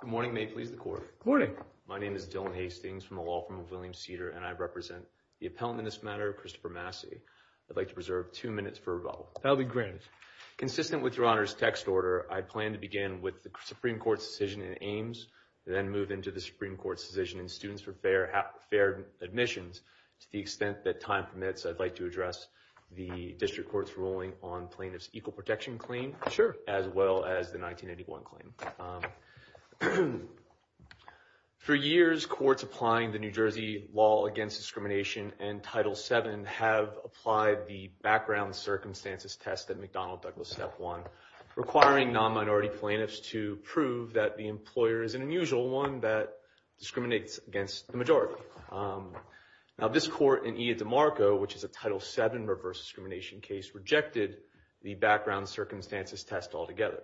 Good morning, may it please the court. Good morning. My name is Dylan Hastings from the law firm of William Cedar and I represent the appellant in this matter, Christopher Massey. I'd like to preserve two minutes for rebuttal. That'll be granted. Consistent with your honor's text order, I plan to begin with the Supreme Court's decision in Ames, then move into the Supreme Court's decision in Students for Fair Admissions. To the extent that time permits, I'd like to address the district court's ruling on plaintiff's equal protection claim, as well as the 1981 claim. For years, courts applying the New Jersey law against discrimination and Title VII have applied the background circumstances test that McDonnell Douglas Step 1, requiring non-minority plaintiffs to prove that the employer is an unusual one that discriminates against the majority. Now, this court in Ida DeMarco, which is a Title VII reverse discrimination case, rejected the background circumstances test altogether.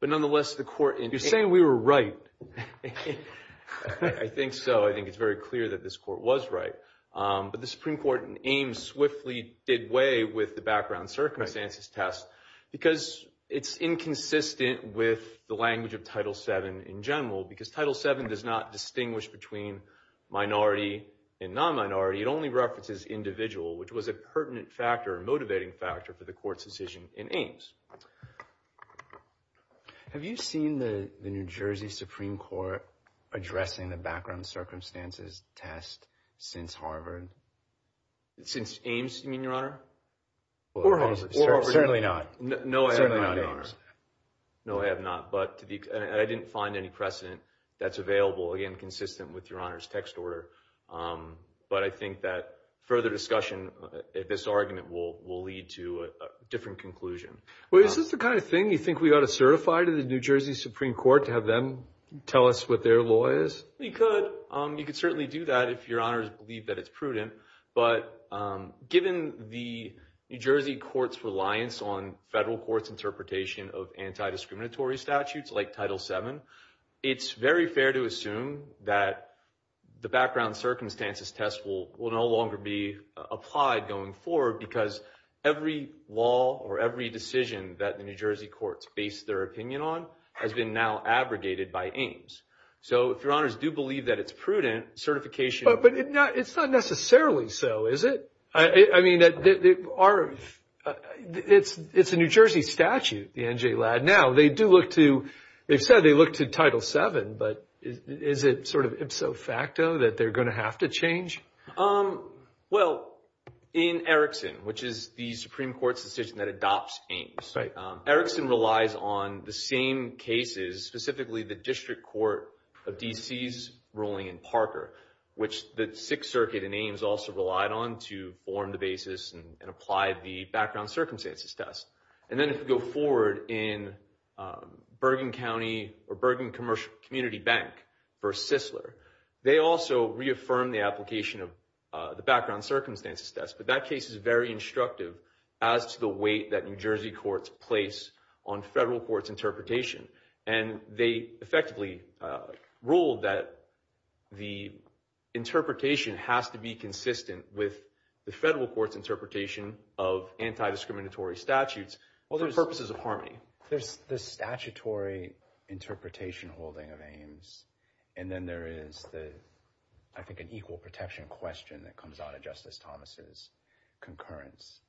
But nonetheless, the court... You're saying we were right. I think so. I think it's very clear that this court was right. But the Supreme Court in Ames swiftly did away with the background circumstances test because it's inconsistent with the language of Title VII in general, because Title VII does not distinguish between minority and non-minority. It only references individual, which was a pertinent factor, a motivating factor, for the court's decision in Ames. Have you seen the New Jersey Supreme Court addressing the background circumstances test since Harvard? Since Ames, you mean, Your Honor? Certainly not. No, I have not, but I didn't find any precedent that's available, again, consistent with Your Honor's text order. But I think that further discussion, this argument will lead to a different conclusion. Well, is this the kind of thing you think we ought to certify to the New Jersey Supreme Court to have them tell us what their law is? You could. You could certainly do that if Your Honor's believe that it's prudent. But given the New Jersey Court's reliance on federal courts' interpretation of anti-discriminatory statutes like Title VII, it's very fair to assume that the background circumstances test will no longer be applied going forward, because every law or every decision that the New Jersey courts base their opinion on has been now abrogated by Ames. So if Your Honor's do believe that it's prudent, certification... But it's not necessarily so, is it? I mean, it's a New Jersey statute, the NJLAD. Now, they've said they look to Title VII, but is it sort of ipso facto that they're going to have to change? Well, in Erickson, which is the Supreme Court's decision that adopts Ames, Erickson relies on the same cases, specifically the District Court of D.C.'s ruling in Parker, which the Sixth Circuit in Ames also relied on to form the basis and apply the background circumstances test. And then if you go forward in Bergen County or Bergen Community Bank v. Sisler, they also reaffirmed the application of the background circumstances test. But that case is very instructive as to the weight that New Jersey courts place on federal courts' interpretation. And they effectively ruled that the interpretation has to be consistent with the federal courts' interpretation of anti-discriminatory statutes for purposes of harmony. There's the statutory interpretation holding of Ames, and then there is, I think, an equal protection question that comes out of Justice Thomas' concurrence.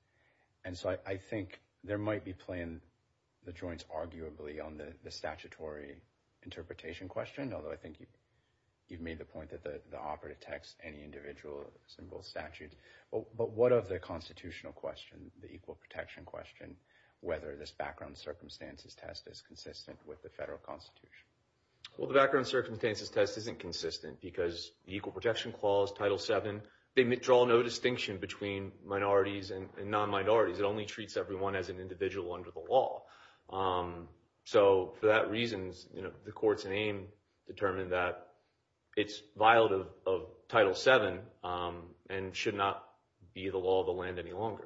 And so I think there might be playing the joints, arguably, on the statutory interpretation question, although I think you've made the point that the offer detects any individual single statute. But what of the constitutional question, the equal protection question, whether this background circumstances test is consistent with the federal constitution? Well, the background circumstances test isn't consistent because the equal protection clause, Title VII, they draw no distinction between minorities and non-minorities. It only treats everyone as an individual under the law. So for that reason, the courts in Ames determined that it's violative of Title VII and should not be the law of the land any longer.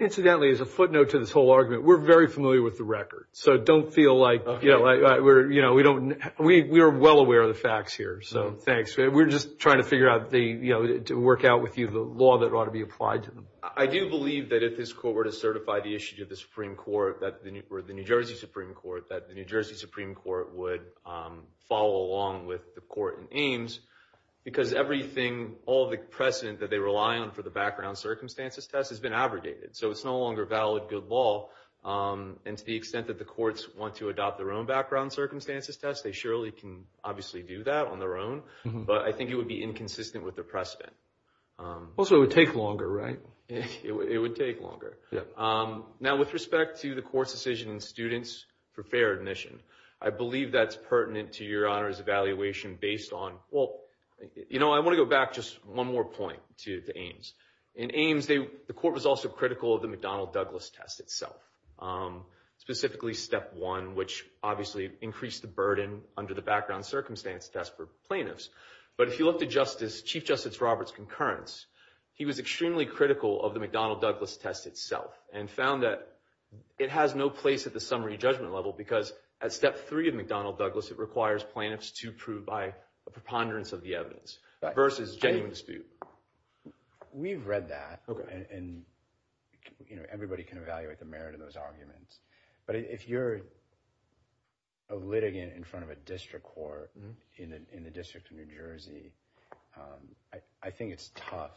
Incidentally, as a footnote to this whole argument, we're very familiar with the record. So don't feel like we're, you know, we don't, we are well aware of the facts here. So thanks. We're just trying to figure out the, you know, to work out with you the law that ought to be applied to them. I do believe that if this court were to certify the issue to the Supreme Court, or the New Jersey Supreme Court, that the New Jersey Supreme Court would follow along with the court in Ames because everything, all the precedent that they rely on for the background circumstances test has been abrogated. So it's no longer valid good law. And to the extent that the courts want to adopt their own background circumstances test, they surely can obviously do that on their own. But I think it would be inconsistent with the precedent. Also, it would take longer, right? It would take longer. Now, with respect to the court's decision in students for fair admission, I believe that's pertinent to your Honor's evaluation based on, well, you know, I want to go back just one more point to Ames. In Ames, the court was also critical of the McDonnell-Douglas test itself, specifically step one, which obviously increased the burden under the background circumstance test for plaintiffs. But if you look to Chief Justice Roberts' concurrence, he was extremely critical of the McDonnell-Douglas test itself and found that it has no place at the summary judgment level because at step three of McDonnell-Douglas, it requires plaintiffs to prove by a preponderance of the evidence versus genuine dispute. We've read that and everybody can evaluate the merit of those But if you're a litigant in front of a district court in the District of New Jersey, I think it's tough,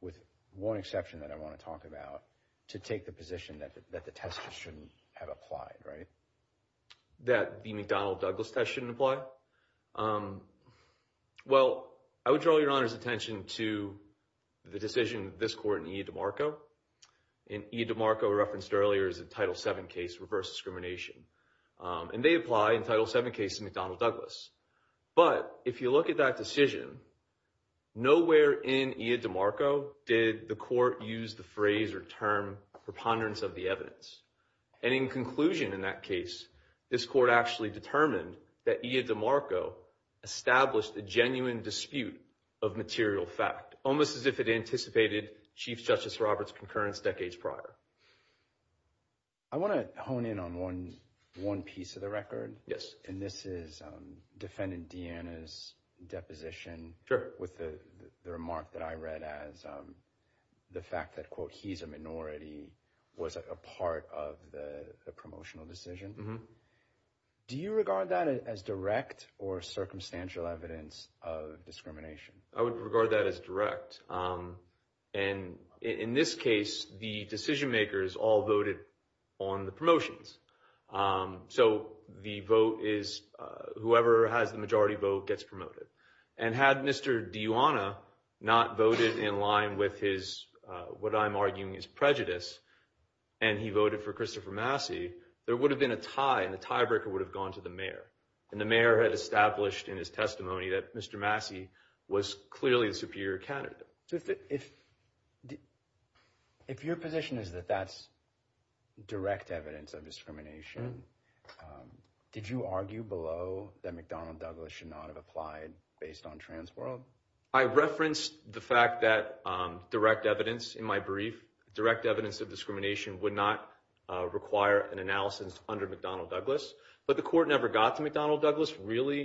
with one exception that I want to talk about, to take the position that the test shouldn't have applied, right? That the McDonnell-Douglas test shouldn't apply? Well, I would draw your Honor's attention to the decision of this court in E. DiMarco. And E. DiMarco, referenced earlier, is a Title VII case, reverse discrimination. And they apply in Title VII cases to McDonnell-Douglas. But if you look at that decision, nowhere in E. DiMarco did the court use the phrase or term preponderance of the evidence. And in conclusion in that case, this court actually determined that E. DiMarco established a genuine dispute of material fact, almost as if it anticipated Chief Justice Roberts' concurrence decades prior. I want to hone in on one piece of the record. And this is Defendant Deanna's deposition with the remark that I read as the fact that, quote, he's a minority was a part of the promotional decision. Do you regard that as direct or circumstantial evidence of discrimination? I would regard that as direct. And in this case, the decision makers all voted on the promotions. So the vote is, whoever has the majority vote gets promoted. And had Mr. Deanna not voted in line with his, what I'm arguing is prejudice, and he voted for Christopher Massey, there would have been a tie and the tiebreaker would have gone to the mayor. And the mayor had established in his testimony that Mr. Massey was clearly the superior candidate. If your position is that that's direct evidence of discrimination, did you argue below that McDonnell Douglas should not have applied based on trans world? I referenced the fact that direct evidence in my brief, direct evidence of would not require an analysis under McDonnell Douglas, but the court never got to McDonnell Douglas really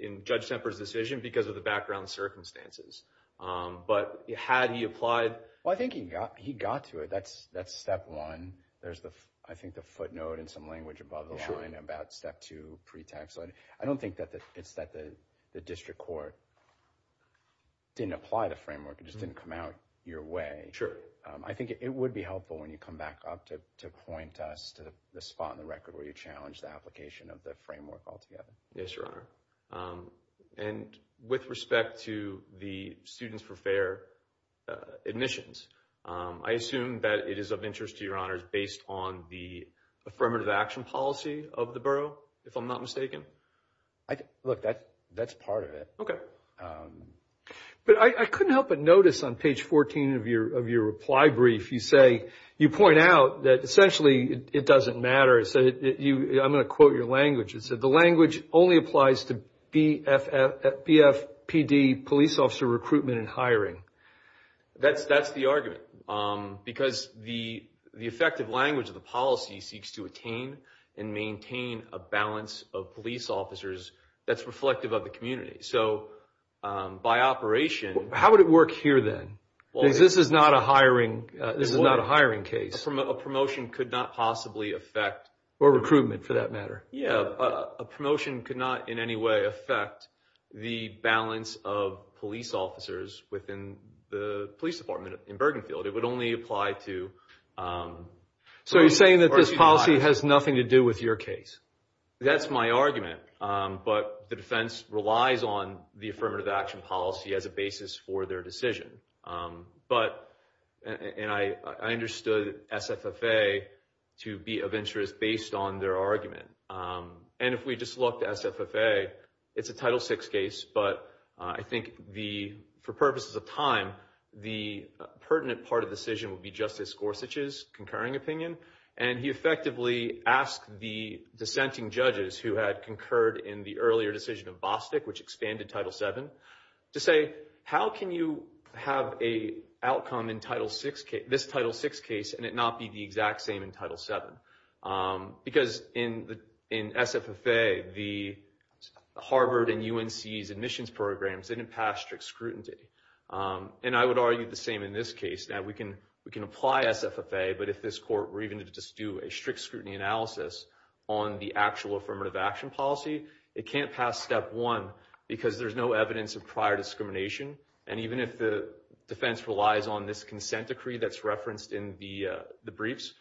in Judge Semper's decision because of the background circumstances. But had he applied? Well, I think he got to it. That's step one. There's, I think, the footnote in some language above the line about step two pre-tax. I don't think that it's that the district court didn't apply the framework. It just didn't come out your way. I think it would helpful when you come back up to point us to the spot on the record where you challenged the application of the framework altogether. Yes, Your Honor. And with respect to the students for fair admissions, I assume that it is of interest to Your Honors based on the affirmative action policy of the borough, if I'm not mistaken? Look, that's part of it. Okay. But I couldn't help but notice on page 14 of your reply brief, you say, you point out that essentially it doesn't matter. I'm going to quote your language. It said, the language only applies to BFPD police officer recruitment and hiring. That's the argument because the effective language of the policy seeks to attain and maintain a balance of police officers that's reflective of the community. So by operation... How would it work here then? Because this is not a hiring case. A promotion could not possibly affect... Or recruitment for that matter. Yeah. A promotion could not in any way affect the balance of police officers within the police department in Bergenfield. It would only apply to... So you're saying that this policy has nothing to do with your case? That's my argument. But the defense relies on the affirmative action policy as a basis for their decision. But... And I understood SFFA to be of interest based on their argument. And if we just look at SFFA, it's a Title VI case, but I think for purposes of time, the pertinent part of the decision would be Justice Gorsuch's concurring opinion. And he effectively asked the dissenting judges who had concurred in the earlier decision of Bostick, which expanded Title VII, to say, how can you have a outcome in this Title VI case and it not be the exact same in Title VII? Because in SFFA, the Harvard and UNC's admissions programs didn't pass strict scrutiny. And I would argue the same in this case. Now we can apply SFFA, but if this court were even to just do a strict scrutiny analysis on the actual affirmative action policy, it can't pass step one because there's no evidence of prior discrimination. And even if the defense relies on this consent decree that's referenced in the briefs,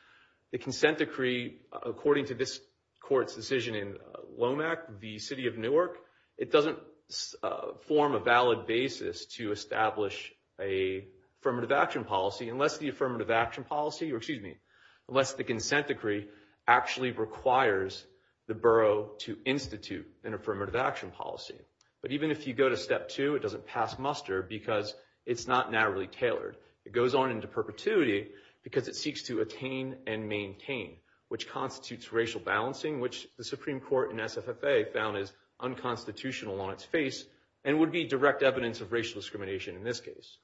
the consent decree, according to this court's decision in LOMAC, the city of Newark, it doesn't form a valid basis to establish a affirmative action policy unless the affirmative action policy, or excuse me, unless the consent decree actually requires the borough to institute an affirmative action policy. But even if you go to step two, it doesn't pass muster because it's not narrowly tailored. It goes on into perpetuity because it seeks to attain and maintain, which constitutes racial balancing, which the Supreme Court in SFFA found is unconstitutional on its face and would be evidence of racial discrimination in this case.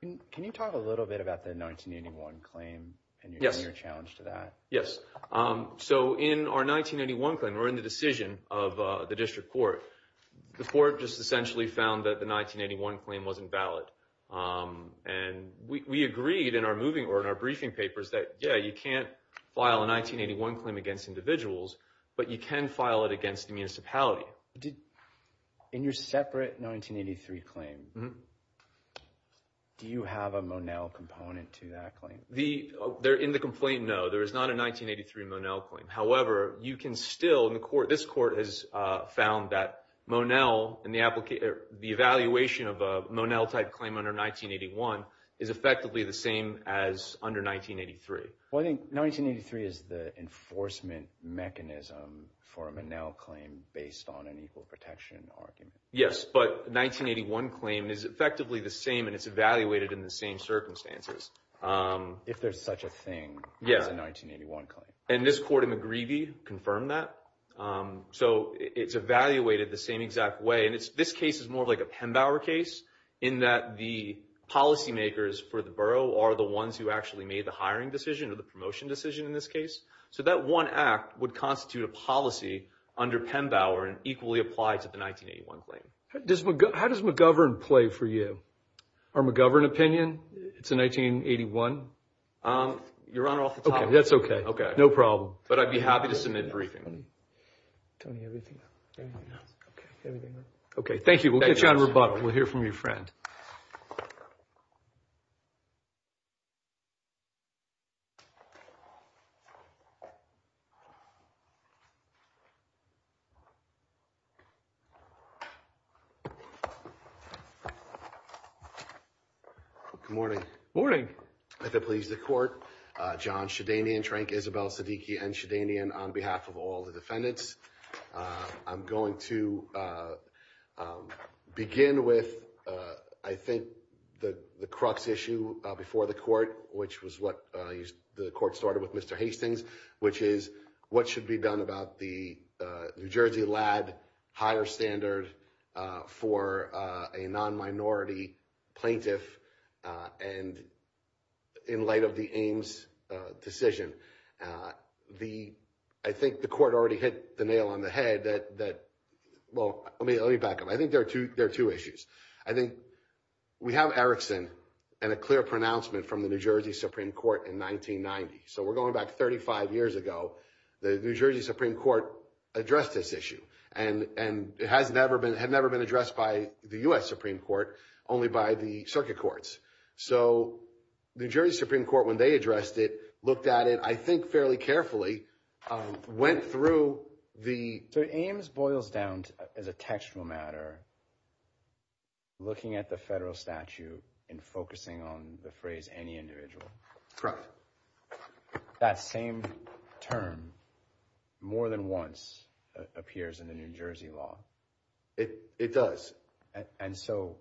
Can you talk a little bit about the 1981 claim and your challenge to that? Yes. So in our 1981 claim, or in the decision of the district court, the court just essentially found that the 1981 claim wasn't valid. And we agreed in our briefing papers that, yeah, you can't file a 1981 claim against individuals, but you can file it against a municipality. In your separate 1983 claim, do you have a Monell component to that claim? In the complaint, no. There is not a 1983 Monell claim. However, you can still, this court has found that Monell and the evaluation of a Monell type claim under 1981 is effectively the same as under 1983. Well, I think 1983 is the enforcement mechanism for a Monell claim based on an equal protection argument. Yes. But 1981 claim is effectively the same, and it's evaluated in the same circumstances. If there's such a thing as a 1981 claim. And this court in McGreevy confirmed that. So it's evaluated the same exact way. And this case is more like a Pembauer case in that the policy makers for the borough are the ones who actually made the hiring decision or the promotion decision in this case. So that one act would constitute a policy under Pembauer and equally apply to the 1981 claim. How does McGovern play for you? Our McGovern opinion? It's a 1981. You're on off the top. Okay. That's okay. Okay. No problem. But I'd be happy to submit a briefing. Tony, everything. Okay. Thank you. We'll get you on your friend. Good morning. Morning. If it pleases the court, John Shedanian, Isabel Siddiqi, and Shedanian on behalf of all the defendants, I'm going to begin with, I think, the crux issue before the court, which was what the court started with Mr. Hastings, which is what should be done about the New Jersey Ladd higher standard for a non-minority plaintiff. And in light of the Ames decision, the, I think the court already hit the nail on the head that, that, well, let me, let me back up. I think there are two, there are two issues. I think we have Erickson and a clear pronouncement from the New Jersey Supreme Court in 1990. So we're going back 35 years ago, the New Jersey Supreme Court addressed this issue and, and it had never been addressed by the U.S. Supreme Court, only by the circuit courts. So the New Jersey Supreme Court, when they addressed it, looked at it, I think fairly carefully, went through the... So Ames boils down as a textual matter, looking at the federal statute and focusing on the phrase, any individual. That same term more than once appears in the New Jersey law. It does. And so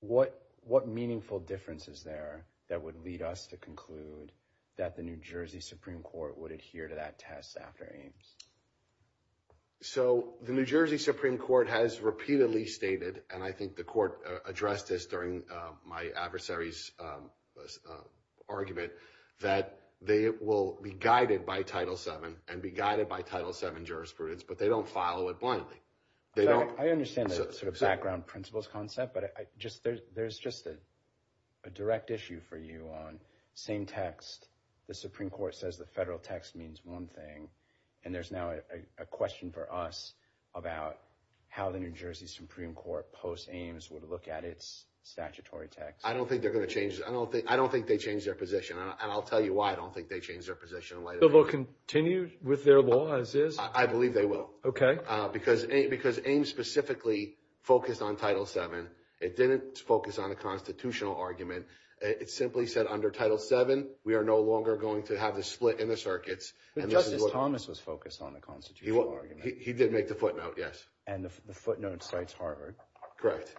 what, what meaningful differences there that would lead us to conclude that the New Jersey Supreme Court would adhere to that test after Ames? So the New Jersey Supreme Court has repeatedly stated, and I think the court and be guided by title seven jurisprudence, but they don't follow it blindly. I understand that sort of background principles concept, but I just, there's, there's just a direct issue for you on same text. The Supreme Court says the federal text means one thing. And there's now a question for us about how the New Jersey Supreme Court post Ames would look at its statutory text. I don't think they're going to change it. I don't think, I don't think they changed their position. And I'll tell you why I don't think they changed their position. They will continue with their law as is? I believe they will. Okay. Because, because Ames specifically focused on title seven. It didn't focus on a constitutional argument. It simply said under title seven, we are no longer going to have the split in the circuits. But Justice Thomas was focused on a constitutional argument. He did make the footnote. Yes. And the footnote cites Harvard. Correct.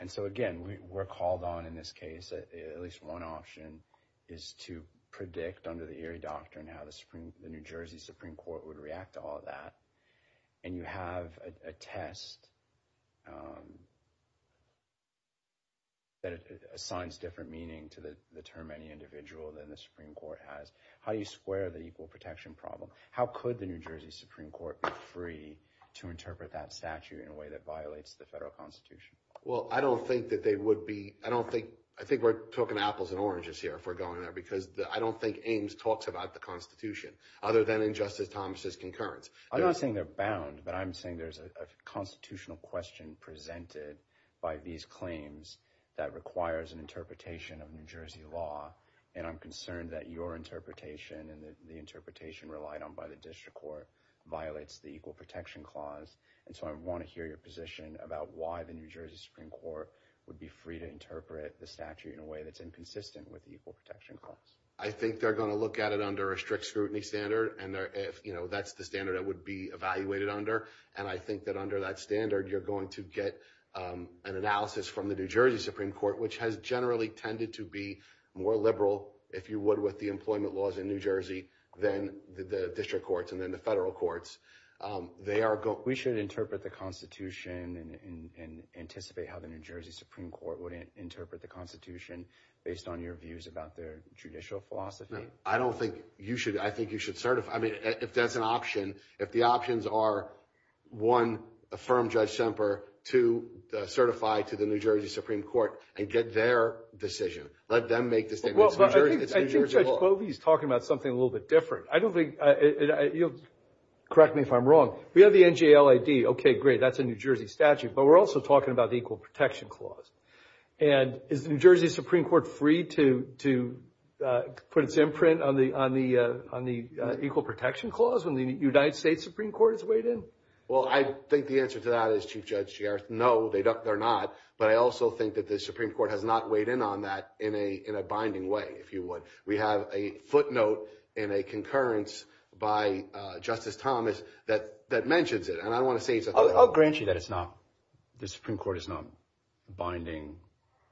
And so again, we were called on in this case, at least one option is to predict under the Erie doctrine, how the Supreme, the New Jersey Supreme Court would react to all of that. And you have a test that assigns different meaning to the term, any individual than the Supreme Court has. How do you square the equal protection problem? How could the New Jersey Supreme Court be free to interpret that statute in a way that violates the federal constitution? Well, I don't think that they would be, I don't think, I think we're talking apples and oranges here if we're going there, because I don't think Ames talks about the constitution other than in Justice Thomas's concurrence. I'm not saying they're bound, but I'm saying there's a constitutional question presented by these claims that requires an interpretation of New Jersey law. And I'm concerned that your interpretation and the interpretation relied on by the district court violates the equal protection clause. And so I want to hear your position about why the New Jersey Supreme Court would be free to interpret the statute in a way that's inconsistent with the equal protection clause. I think they're going to look at it under a strict scrutiny standard. And if that's the standard that would be evaluated under. And I think that under that standard, you're going to get an analysis from the New Jersey Supreme Court, which has generally tended to be more liberal, if you would, with the employment laws in New Jersey, than the district courts and then the federal courts. We should interpret the constitution and anticipate how the New Jersey Supreme Court would interpret the constitution based on your views about their judicial philosophy. I don't think you should, I think you should certify, I mean, if that's an option, if the options are one, affirm Judge Semper, two, certify to the New Jersey Supreme Court and get their decision. Let them make the statement. Well, I think Judge Bovee is talking about something a little bit different. I don't think, you'll correct me if I'm wrong. We have the NJLAD. Okay, great. That's a New Jersey statute. But we're also talking about the equal protection clause. And is the New Jersey Supreme Court free to put its imprint on the equal protection clause when the United States Supreme Court is weighed in? Well, I think the answer to that is, Chief Judge Gereth, no, they're not. But I also think that the Supreme Court has not weighed in on that in a binding way, if you would. We have a footnote in a concurrence by Justice Thomas that mentions it. And I don't want to say it's a- I'll grant you that it's not, the Supreme Court is not binding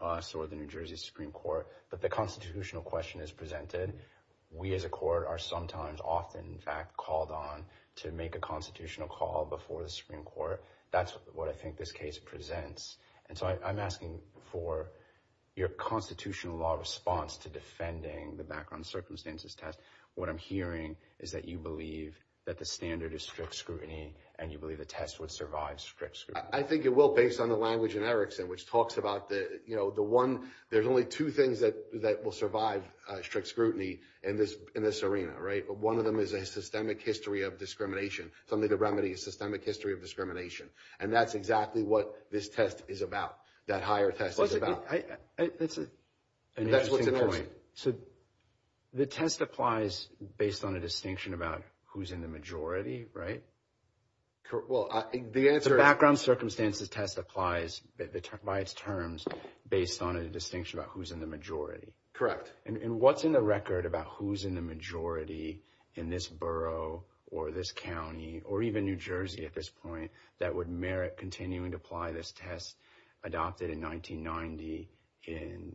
us or the New Jersey Supreme Court, but the constitutional question is presented. We as a court are sometimes often, in fact, called on to make a constitutional call before the Supreme Court. That's what I think this case presents. And so I'm asking for your constitutional law response to defending the background circumstances test. What I'm hearing is that you believe that the standard is strict scrutiny, and you believe the test would survive strict scrutiny. I think it will, based on the language in Erickson, which talks about the one, there's only two things that will survive strict scrutiny in this arena, right? One of them is a systemic history of discrimination. Something to remedy a systemic history of discrimination. And that's exactly what this test is about, that higher test is about. That's an interesting point. So the test applies based on a distinction about who's in the majority, right? Well, the answer is- The background circumstances test applies by its terms based on a distinction about who's in the majority. Correct. And what's in the record about who's in the majority in this borough, or this county, or even New Jersey at this point, that would merit continuing to apply this test adopted in 1990 in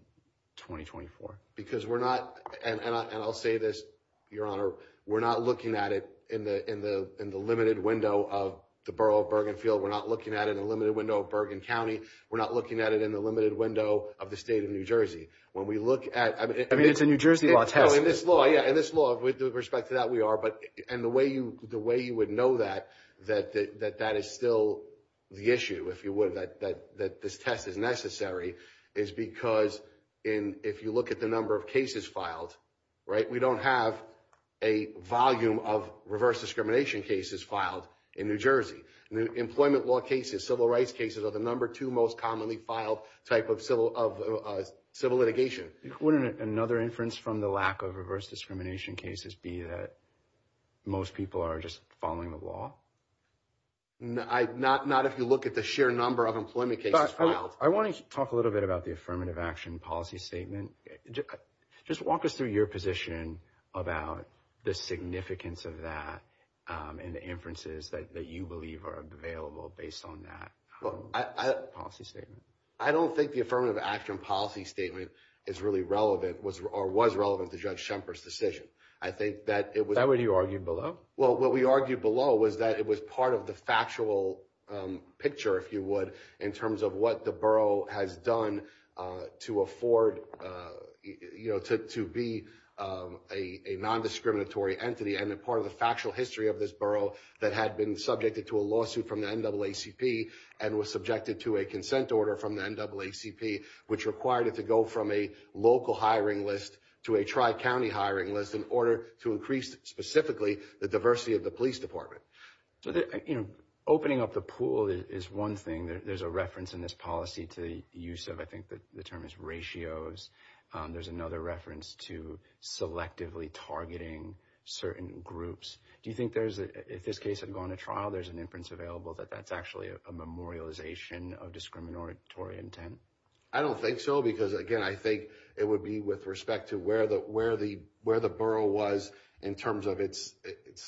2024? Because we're not, and I'll say this, your honor, we're not looking at it in the limited window of the borough of Bergenfield. We're not looking at it in a limited window of Bergen County. We're not looking at it in the limited window of the state of New Jersey. When we look at- I mean, it's a New Jersey law test. In this law, with respect to that, we are. The way you would know that, that that is still the issue, if you would, that this test is necessary, is because if you look at the number of cases filed, we don't have a volume of reverse discrimination cases filed in New Jersey. Employment law cases, civil rights cases are the number two most commonly filed type of civil litigation. Wouldn't another inference from the lack of reverse discrimination cases be that most people are just following the law? Not if you look at the sheer number of employment cases filed. I want to talk a little bit about the affirmative action policy statement. Just walk us through your position about the significance of that and the inferences that you believe are available based on that policy statement. I don't think the affirmative action policy statement is really relevant or was relevant to Judge Schemper's decision. I think that it was- Is that what you argued below? Well, what we argued below was that it was part of the factual picture, if you would, in terms of what the borough has done to afford to be a non-discriminatory entity and a part of the factual history of this borough that had been subjected to a lawsuit from the NAACP and was subjected to a consent order from the NAACP which required it to go from a local hiring list to a tri-county hiring list in order to increase specifically the diversity of the police department. Opening up the pool is one thing. There's a reference in this policy to the use of, I think the term is ratios. There's another reference to selectively targeting certain groups. Do you think there's, if this case had gone to trial, there's an inference available that that's actually a memorialization of discriminatory intent? I don't think so because, again, I think it would be with respect to where the borough was in terms of its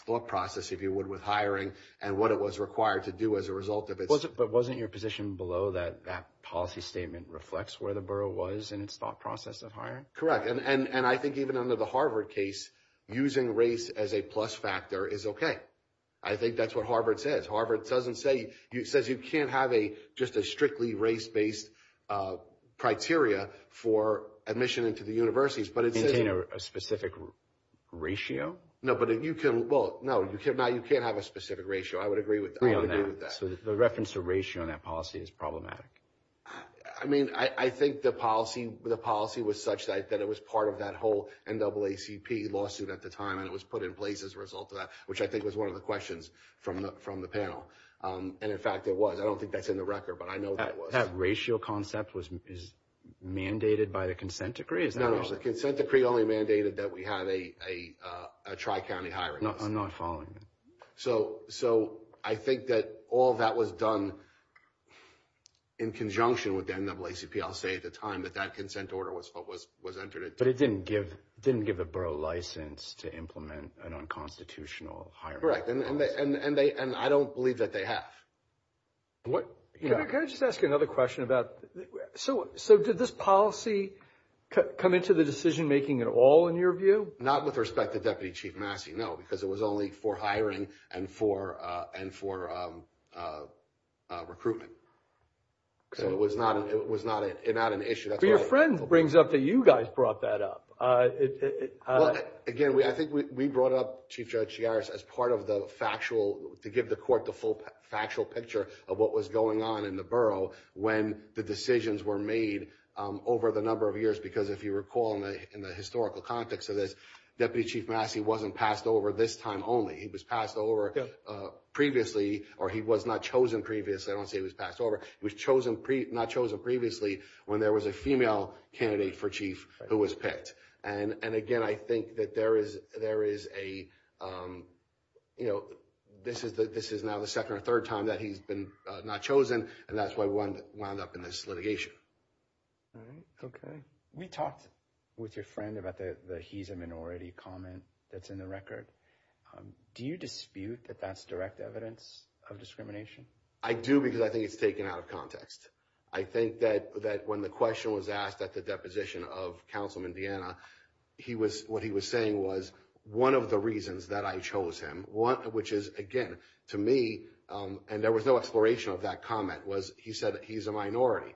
thought process, if you would, with hiring and what it was required to do as a result of its- But wasn't your position below that that policy statement reflects where the borough was in its thought process of hiring? Correct, and I think even under the Harvard case, using race as a plus factor is okay. I think that's what Harvard says. Harvard doesn't say, it says you can't have just a strictly race-based criteria for admission into the universities, but it says- Maintain a specific ratio? No, but you can, well, no, you can't have a specific ratio. I would agree with that. So the reference to ratio in that policy is problematic? I mean, I think the policy was such that it was part of that whole NAACP lawsuit at the time, and it was put in place as a result of that, which I think was one of the questions from the panel. And in fact, it was. I don't think that's in the record, but I know that it was. That ratio concept is mandated by the consent decree? No, no, the consent decree only mandated that we have a tri-county hiring. I'm not following you. So I think that all that was done in conjunction with the NAACP, I'll say at the time, that that consent order was entered into. But it didn't give the borough license to implement an unconstitutional hiring policy. Correct, and I don't believe that they have. Can I just ask you another question about, so did this policy come into the decision making at all in your view? Not with respect to Deputy Chief Massey, no, because it was only for hiring and for recruitment. So it was not an issue. But your friend brings up that you guys brought that up. Well, again, I think we brought up Chief Judge Chigares as part of the factual, to give the court the full factual picture of what was going on in the borough when the decisions were made over the number of years. Because if you recall in the historical context of this, Deputy Chief Massey wasn't passed over this time only. He was passed over previously, or he was not chosen previously. I don't say he was passed over. He was not chosen previously when there was a female candidate for chief who was picked. And again, I think that there is a, you know, this is now the second or third time that he's been not chosen, and that's why we wound up in this litigation. All right, okay. We talked with your friend about the he's a minority comment that's in the record. Do you dispute that that's direct evidence of discrimination? I do because I think it's taken out of context. I think that when the question was asked at the deposition of Councilman Deanna, what he was saying was one of the reasons that I chose him, which is, again, to me, and there was no exploration of that comment, was he said that he's a minority.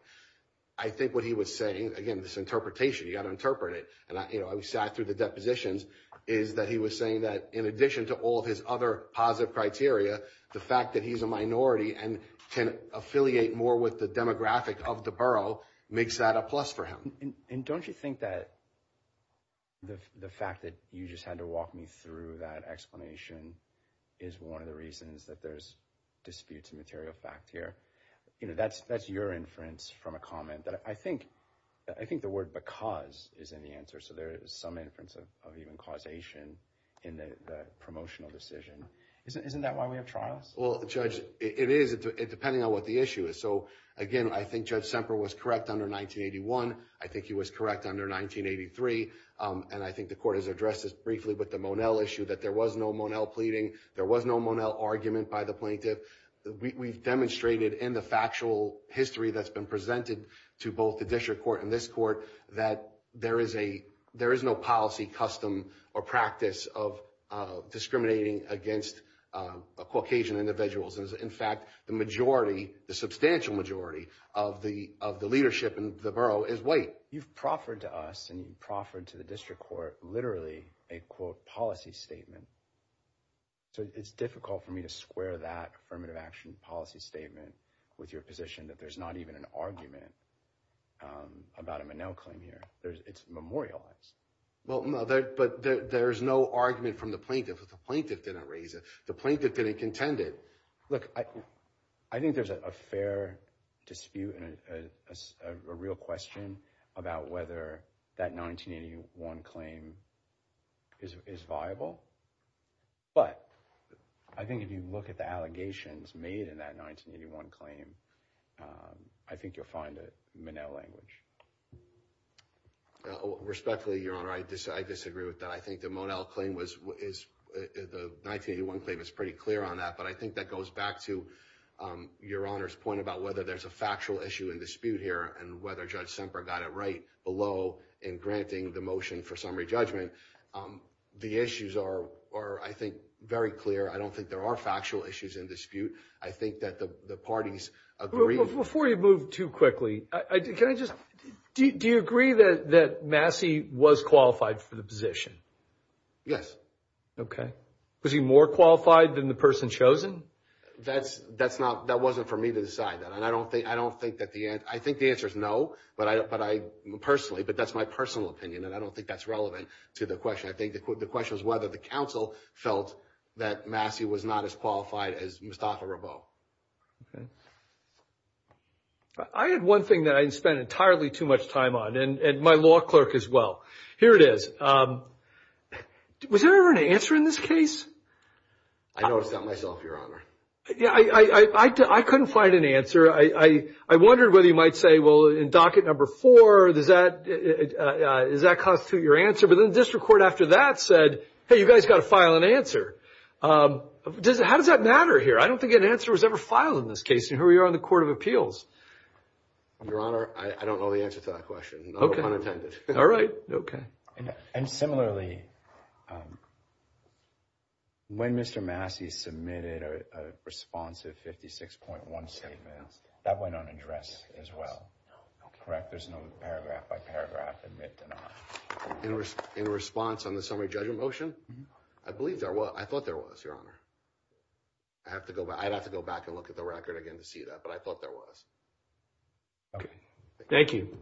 I think what he was saying, again, this interpretation, you got to interpret it. And I sat through the depositions, is that he was saying that in addition to all of his other positive criteria, the fact that he's a minority and can affiliate more with the demographic of the borough makes that a plus for him. And don't you think that the fact that you just had to walk me through that explanation is one of the reasons that there's disputes of material fact here? You know, that's your inference from a comment that I think the word because is in the answer. So there is some inference of even causation in the promotional decision. Isn't that why we have trials? Well, Judge, it is, depending on what the issue is. So again, I think Judge Semper was correct under 1981. I think he was correct under 1983. And I think the court has addressed this briefly with the Monell issue, that there was no Monell pleading. There was no Monell argument by the plaintiff. We've demonstrated in the factual history that's been presented to both the district court and this court that there is a there is no policy, custom or practice of discriminating against Caucasian individuals. And in fact, the majority, the substantial majority of the of the leadership in the borough is white. You've proffered to us and proffered to the district court literally a, quote, policy statement. So it's difficult for me to square that affirmative action policy statement with your position that there's not even an argument. About a Monell claim here, it's memorialized. Well, but there's no argument from the plaintiff. The plaintiff didn't raise it. The plaintiff didn't contend it. Look, I think there's a fair dispute and a real question about whether that 1981 claim is viable. But I think if you look at the allegations made in that 1981 claim, I think you'll find Monell language. Respectfully, your honor, I disagree with that. I think the Monell claim was is the 1981 claim is pretty clear on that. But I think that goes back to your honor's point about whether there's a factual issue in dispute here and whether Judge Semper got it right below in granting the motion for summary judgment. The issues are, I think, very clear. I don't think there are factual issues in dispute. I think that the parties agree. Before you move too quickly, can I just, do you agree that Massey was qualified for the position? Yes. Okay. Was he more qualified than the person chosen? That's, that's not, that wasn't for me to decide that. And I don't think, I don't think that the, I think the answer is no. But I, but I personally, but that's my personal opinion. And I don't think that's relevant to the question. I think the question is whether the counsel felt that Massey was not as qualified as Mostafa Ravot. Okay. I had one thing that I spent entirely too much time on, and my law clerk as well. Here it is. Was there an answer in this case? I noticed that myself, your honor. Yeah, I, I, I couldn't find an answer. I, I, I wondered whether you might say, well, in docket number four, does that, does that constitute your answer? But then the district court after that said, hey, you guys got to file an answer. How does that matter here? I don't think an answer was ever filed in this case. And here we are on the Court of Appeals. Your honor, I, I don't know the answer to that question. Okay. None were unattended. All right. Okay. And similarly, when Mr. Massey submitted a responsive 56.1 statement, that went on address as well, correct? There's no paragraph by paragraph, admit, deny. In response on the summary judgment motion? I believe there was. I thought there was, your honor. I have to go back. I'd have to go back and look at the record again to see that. But I thought there was. Okay, thank you.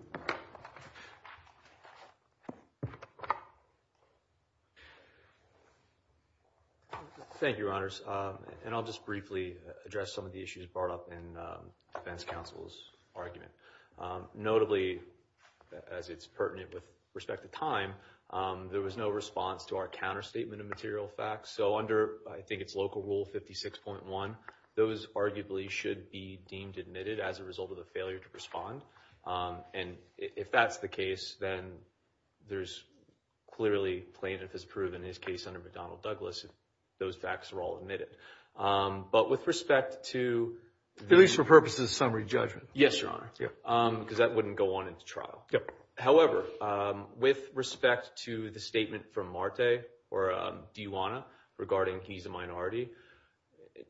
Thank you, your honors. And I'll just briefly address some of the issues brought up in defense counsel's argument. Notably, as it's pertinent with respect to time, there was no response to our counter statement of material facts. So under, I think it's local rule 56.1, those arguably should be deemed admitted as a result of the failure to respond. And if that's the case, then there's clearly plaintiff has proven his case under McDonnell Douglas if those facts are all admitted. But with respect to- At least for purposes of summary judgment. Yes, your honor. Because that wouldn't go on into trial. Yep. However, with respect to the statement from Marte or Dijuana regarding he's a minority,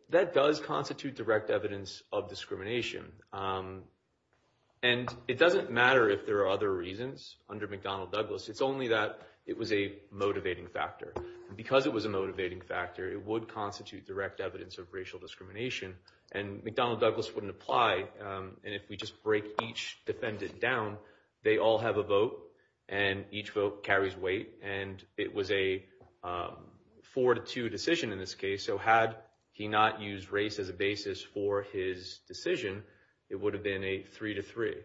that does constitute direct evidence of discrimination. And it doesn't matter if there are other reasons under McDonnell Douglas. It's only that it was a motivating factor. Because it was a motivating factor, it would constitute direct evidence of racial discrimination. And McDonnell Douglas wouldn't apply. And if we just break each defendant down, they all have a vote. And each vote carries weight. And it was a four to two decision in this case. So had he not used race as a basis for his decision, it would have been a three to three.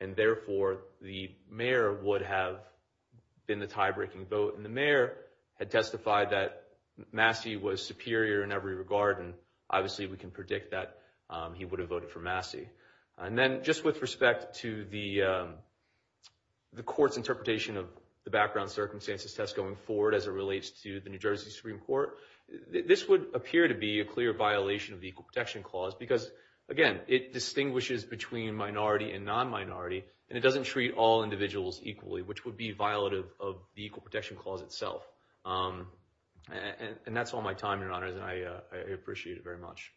And therefore, the mayor would have been the tie-breaking vote. And the mayor had testified that Massey was superior in every regard. And obviously, we can predict that he would have voted for Massey. And then just with respect to the court's interpretation of the background circumstances test going forward as it relates to the New Jersey Supreme Court, this would appear to be a clear violation of the Equal Protection Clause. Because again, it distinguishes between minority and non-minority. And it doesn't treat all individuals equally, which would be violative of the Equal Protection Clause itself. And that's all my time, your honors. And I appreciate it very much.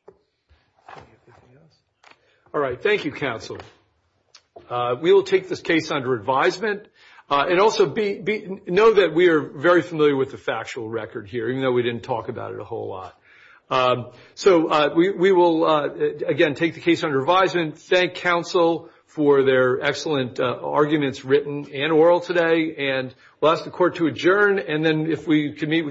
All right. Thank you, counsel. We will take this case under advisement. And also, know that we are very familiar with the factual record here, even though we didn't talk about it a whole lot. So we will, again, take the case under advisement. Thank counsel for their excellent arguments, written and oral today. And we'll ask the court to adjourn. And then if we could meet with.